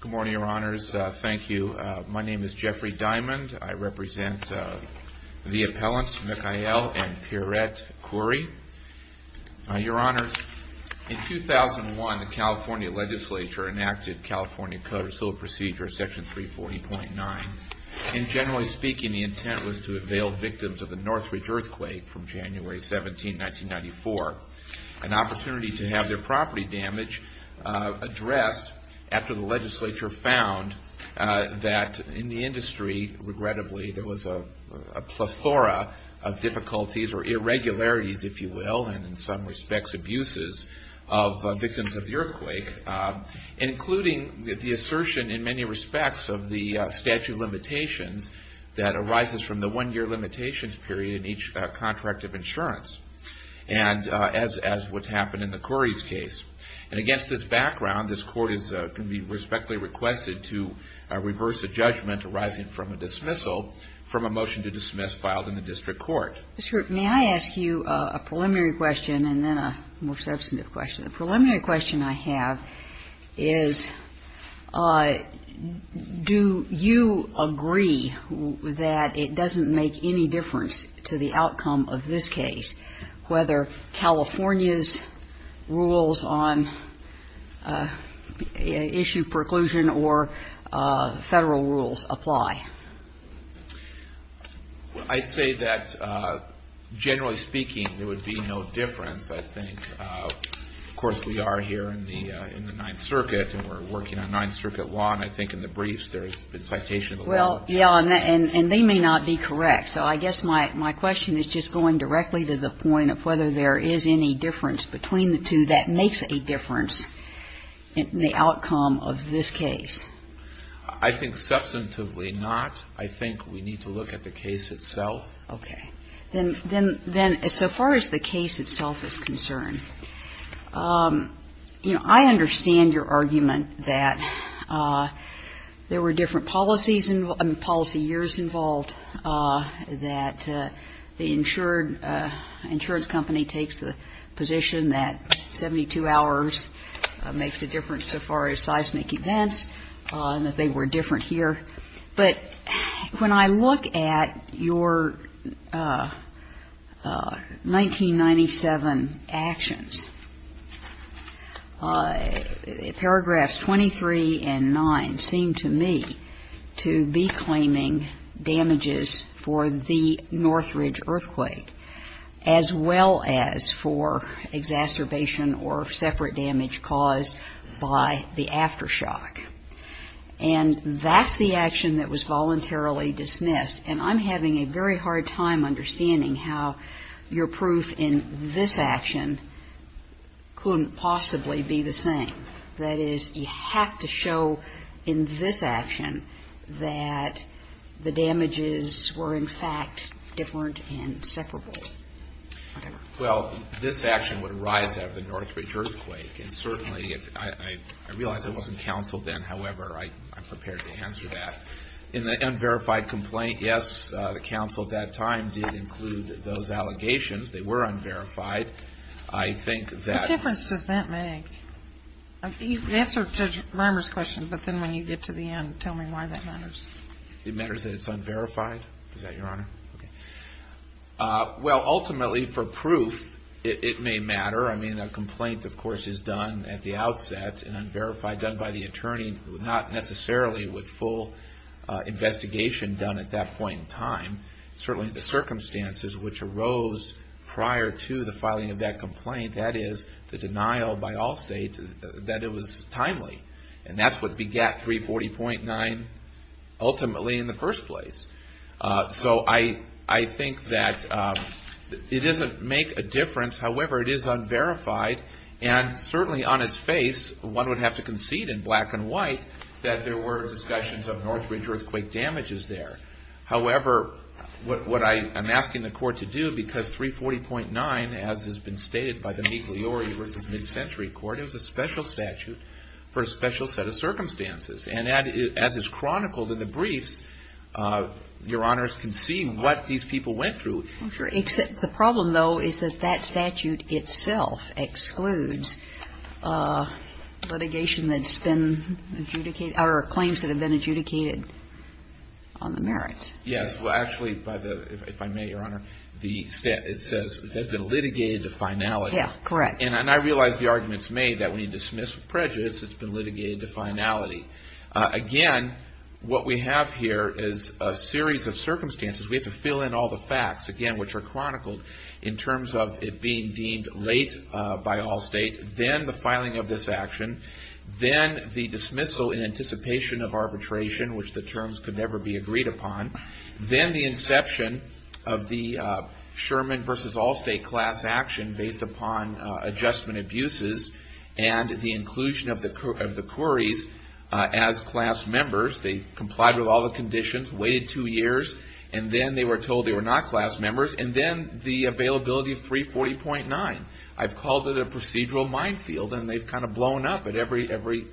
Good morning, Your Honors. Thank you. My name is Jeffrey Diamond. I represent the appellants Mikhail and Pierrette Khoury. Your Honors, in 2001, the California Legislature enacted California Code of Civil Procedure, Section 340.9. And generally speaking, the intent was to avail victims of the Northridge earthquake from January 17, 1994, an opportunity to have their property damage addressed after the legislature found that in the industry, regrettably, there was a plethora of difficulties or irregularities, if you will, and in some respects abuses of victims of the earthquake, including the assertion in many respects of the statute of limitations that arises from the one-year limitations period in each contract of insurance, and as what's happened in the Khoury's case. And against this background, this Court is going to be respectfully requested to reverse a judgment arising from a dismissal from a motion to dismiss filed in the district court. Ms. Root, may I ask you a preliminary question and then a more substantive question? The preliminary question I have is, do you agree that it doesn't make any difference to the district court in this case whether California's rules on issue preclusion or Federal rules apply? Well, I'd say that generally speaking, there would be no difference. I think, of course, we are here in the Ninth Circuit, and we're working on Ninth Circuit law, and I think in the briefs there's been citation of the law. Well, yeah, and they may not be correct. So I guess my question is just going directly to the point of whether there is any difference between the two that makes a difference in the outcome of this case. I think substantively not. I think we need to look at the case itself. Okay. Then as far as the case itself is concerned, you know, I understand your argument that there were different policies and policy years involved, that the insured insurance company takes the position that 72 hours makes a difference so far as seismic events were different here. But when I look at your 1997 actions, paragraphs 23 and 9 seem to me to be claiming damages for the Northridge earthquake as well as for exacerbation or separate damage caused by the aftershock. And that's the action that was voluntarily dismissed. And I'm having a very hard time understanding how your proof in this action couldn't possibly be the same. That is, you have to show in this action that the damages were, in fact, different and separable. Well, this action would arise out of the Northridge earthquake. And certainly, I realize it wasn't counseled then. However, I'm prepared to answer that. In the unverified complaint, yes, the counsel at that time did include those allegations. They were unverified. I think that What difference does that make? Answer Judge Rimer's question, but then when you get to the end, tell me why that matters. It matters that it's unverified? Is that your honor? Okay. Well, ultimately, for proof, it may matter. I mean, a complaint, of course, is done at the outset and unverified, done by the attorney, not necessarily with full investigation done at that point in time. Certainly, the circumstances which arose prior to the filing of that complaint, that is, the denial by all states, that it was timely. And that's what begat 340.9, ultimately, in the first place. So I think that it doesn't make a difference. However, it is unverified. And certainly, on its face, one would have to concede in black and white that there were discussions of Northridge earthquake damages there. However, what I am asking the court to do, because 340.9, as has been stated by the Migliori v. Mid-Century Court, it was a special statute for a special set of circumstances. And as is chronicled in the briefs, your honors can see what these people went through. Except the problem, though, is that that statute itself excludes litigation that's been adjudicated or claims that have been adjudicated on the merits. Yes. Well, actually, if I may, your honor, it says they've been litigated to finality. Yeah, correct. And I realize the argument's made that when you dismiss prejudice, it's been litigated to finality. Again, what we have here is a series of circumstances. We have to fill in all the facts, again, which are chronicled in terms of it being deemed late by all states. Then the filing of this action. Then the dismissal in anticipation of arbitration, which the then the inception of the Sherman v. Allstate class action based upon adjustment abuses and the inclusion of the Courys as class members. They complied with all the conditions, waited two years, and then they were told they were not class members. And then the availability of 340.9. I've called it a procedural minefield, and they've kind of blown up at every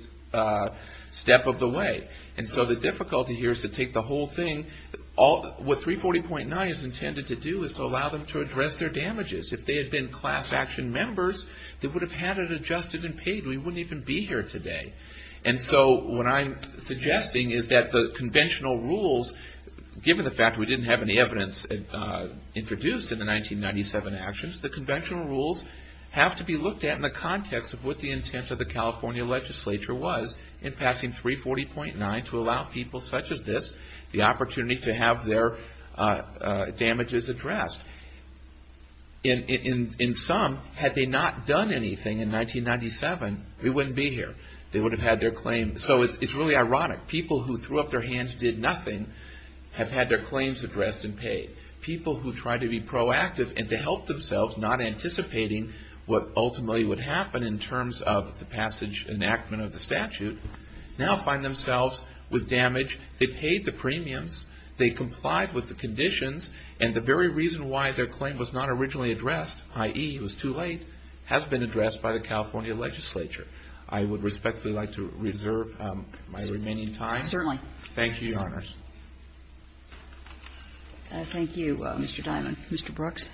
step of the way. And so the difficulty here is to take the whole thing. What 340.9 is intended to do is to allow them to address their damages. If they had been class action members, they would have had it adjusted and paid. We wouldn't even be here today. And so what I'm suggesting is that the conventional rules, given the fact we didn't have any evidence introduced in the 1997 actions, the conventional rules have to be looked at in the context of what allow people such as this the opportunity to have their damages addressed. In sum, had they not done anything in 1997, we wouldn't be here. They would have had their claim. So it's really ironic. People who threw up their hands, did nothing, have had their claims addressed and paid. People who try to be proactive and to help themselves, not anticipating what themselves with damage. They paid the premiums. They complied with the conditions. And the very reason why their claim was not originally addressed, i.e., it was too late, has been addressed by the California legislature. I would respectfully like to reserve my remaining Certainly. Thank you, Your Honors. Thank you, Mr. Diamond. Mr. Brooks.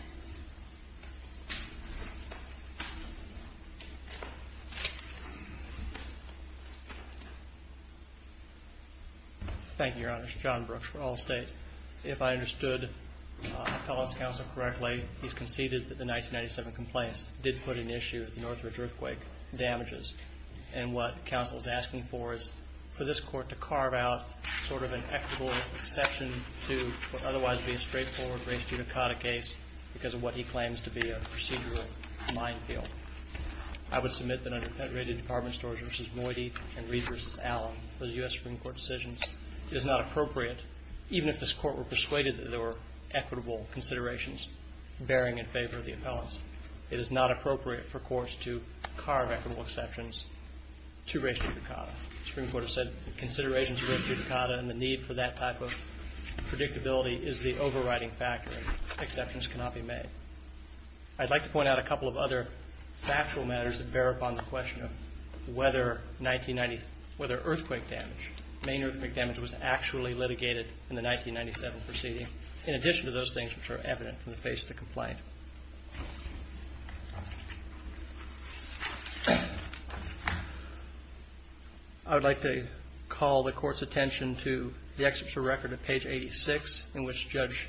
Thank you, Your Honors. John Brooks for Allstate. If I understood Appellant's counsel correctly, he's conceded that the 1997 complaints did put in issue at the Northridge Earthquake damages. And what counsel is asking for is for this court to carve out sort of an equitable exception to what would otherwise be a straightforward race-genocotic case because of what he claims to be a procedural minefield. I would submit that under Penitentiary Department Storage v. Moody and Reed v. Allen, those U.S. Supreme Court decisions, it is not appropriate, even if this Court were persuaded that there were equitable considerations bearing in favor of the appellants, it is not appropriate for courts to carve equitable exceptions to race-genocotic. The Supreme Court has said the considerations of race-genocotic and the need for that type of predictability is the overriding factor. Exceptions cannot be made. I'd like to point out a couple of other factual matters that bear upon the question of whether 1990, whether earthquake damage, main earthquake damage was actually litigated in the 1997 proceeding, in addition to those things which are evident from the face of the complaint. I would like to call the Court's attention to the Excerpt from the Record at page 86 in which Judge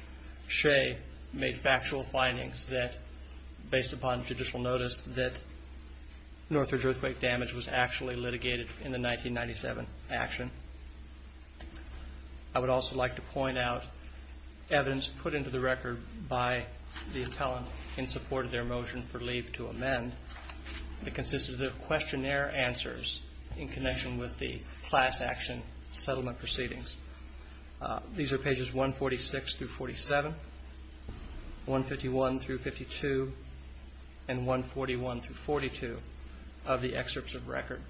Shea made factual findings that, based upon judicial notice, that Northridge earthquake damage was actually litigated in the 1997 action. I would also like to point out evidence put into the Record by the appellant in support of their motion for leave to amend that consisted of questionnaire answers in connection with the class action settlement proceedings. These are pages 146-47, 151-52, and 141-42 of the Excerpts of Record.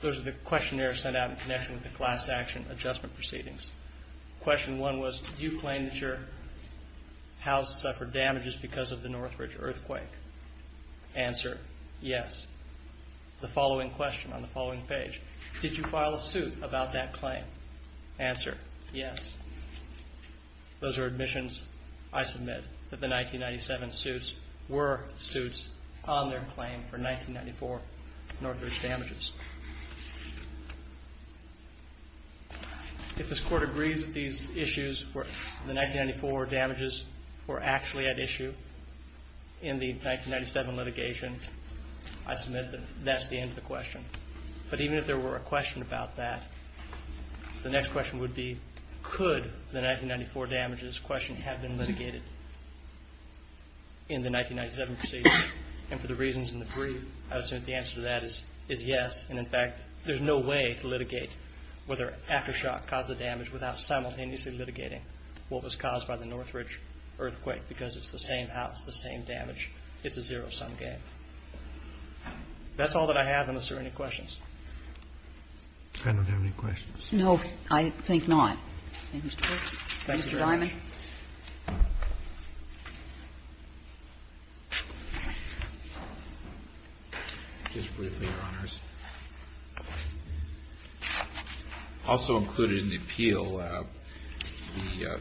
Those are the questionnaires sent out in connection with the class action adjustment proceedings. Question one was, did you claim that your house suffered damages because of the Northridge earthquake? Answer, yes. The following question on the following page, did you file a suit about that claim? Answer, yes. Those are admissions. I submit that the 1997 suits were suits on their claim for 1994 Northridge damages. If this Court agrees that these issues were, the 1994 damages were actually at issue in the 1997 litigation, I submit that that's the end of the question. Even if there were a question about that, the next question would be, could the 1994 damages question have been litigated in the 1997 proceedings? For the reasons in the brief, I would say that the answer to that is yes. In fact, there's no way to litigate whether aftershock caused the damage without simultaneously litigating what was caused by the Northridge earthquake because it's the same house, the same damage. It's a zero-sum game. That's all that I have, unless there are any questions. I don't have any questions. No, I think not. Thank you very much. Mr. Dimon. Just briefly, Your Honors. Also included in the appeal, the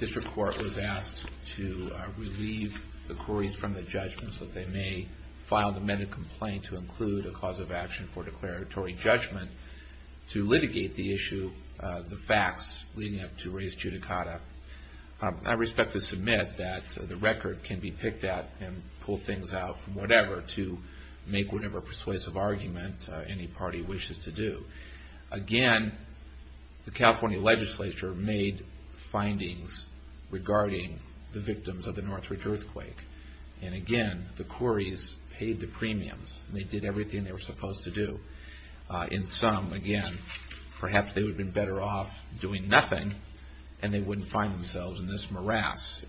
district court was asked to relieve the quarries from the judgment so that they may file an amended complaint to include a cause of action for declaratory judgment to litigate the issue, the facts leading up to Reyes Judicata. I respect to submit that the record can be picked at and pull things out from whatever to make whatever persuasive argument any party wishes to do. Again, the California legislature made findings regarding the victims of the Northridge earthquake. Again, the quarries paid the premiums. They did everything they were supposed to do. In some, again, perhaps they would have been better off doing nothing and they wouldn't find themselves in this morass.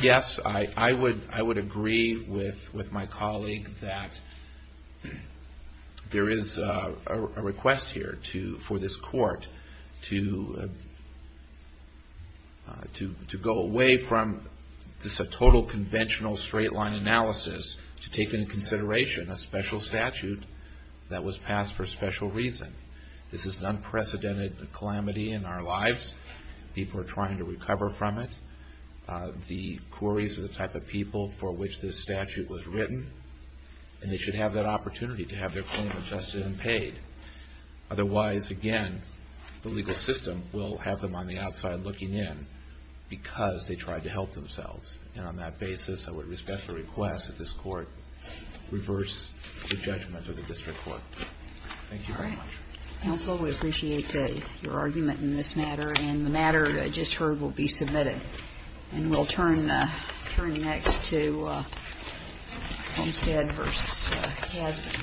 Yes, I would agree with my colleague that there is a request here for this court to go away from this total conventional straight-line analysis to take into consideration a special statute that was passed for a special reason. This is an unprecedented calamity in our lives. People are trying to recover from it. The quarries are the type of people for which this statute was written and they should have that opportunity to have their claim adjusted and paid. Otherwise, again, the legal system will have them on the outside looking in because they tried to help themselves. And on that basis, I would respect the request that this court reverse the judgment of the district court. Thank you very much. Counsel, we appreciate your argument in this matter and the matter just heard will be submitted. And we'll turn next to Holmstead v. Hazlett.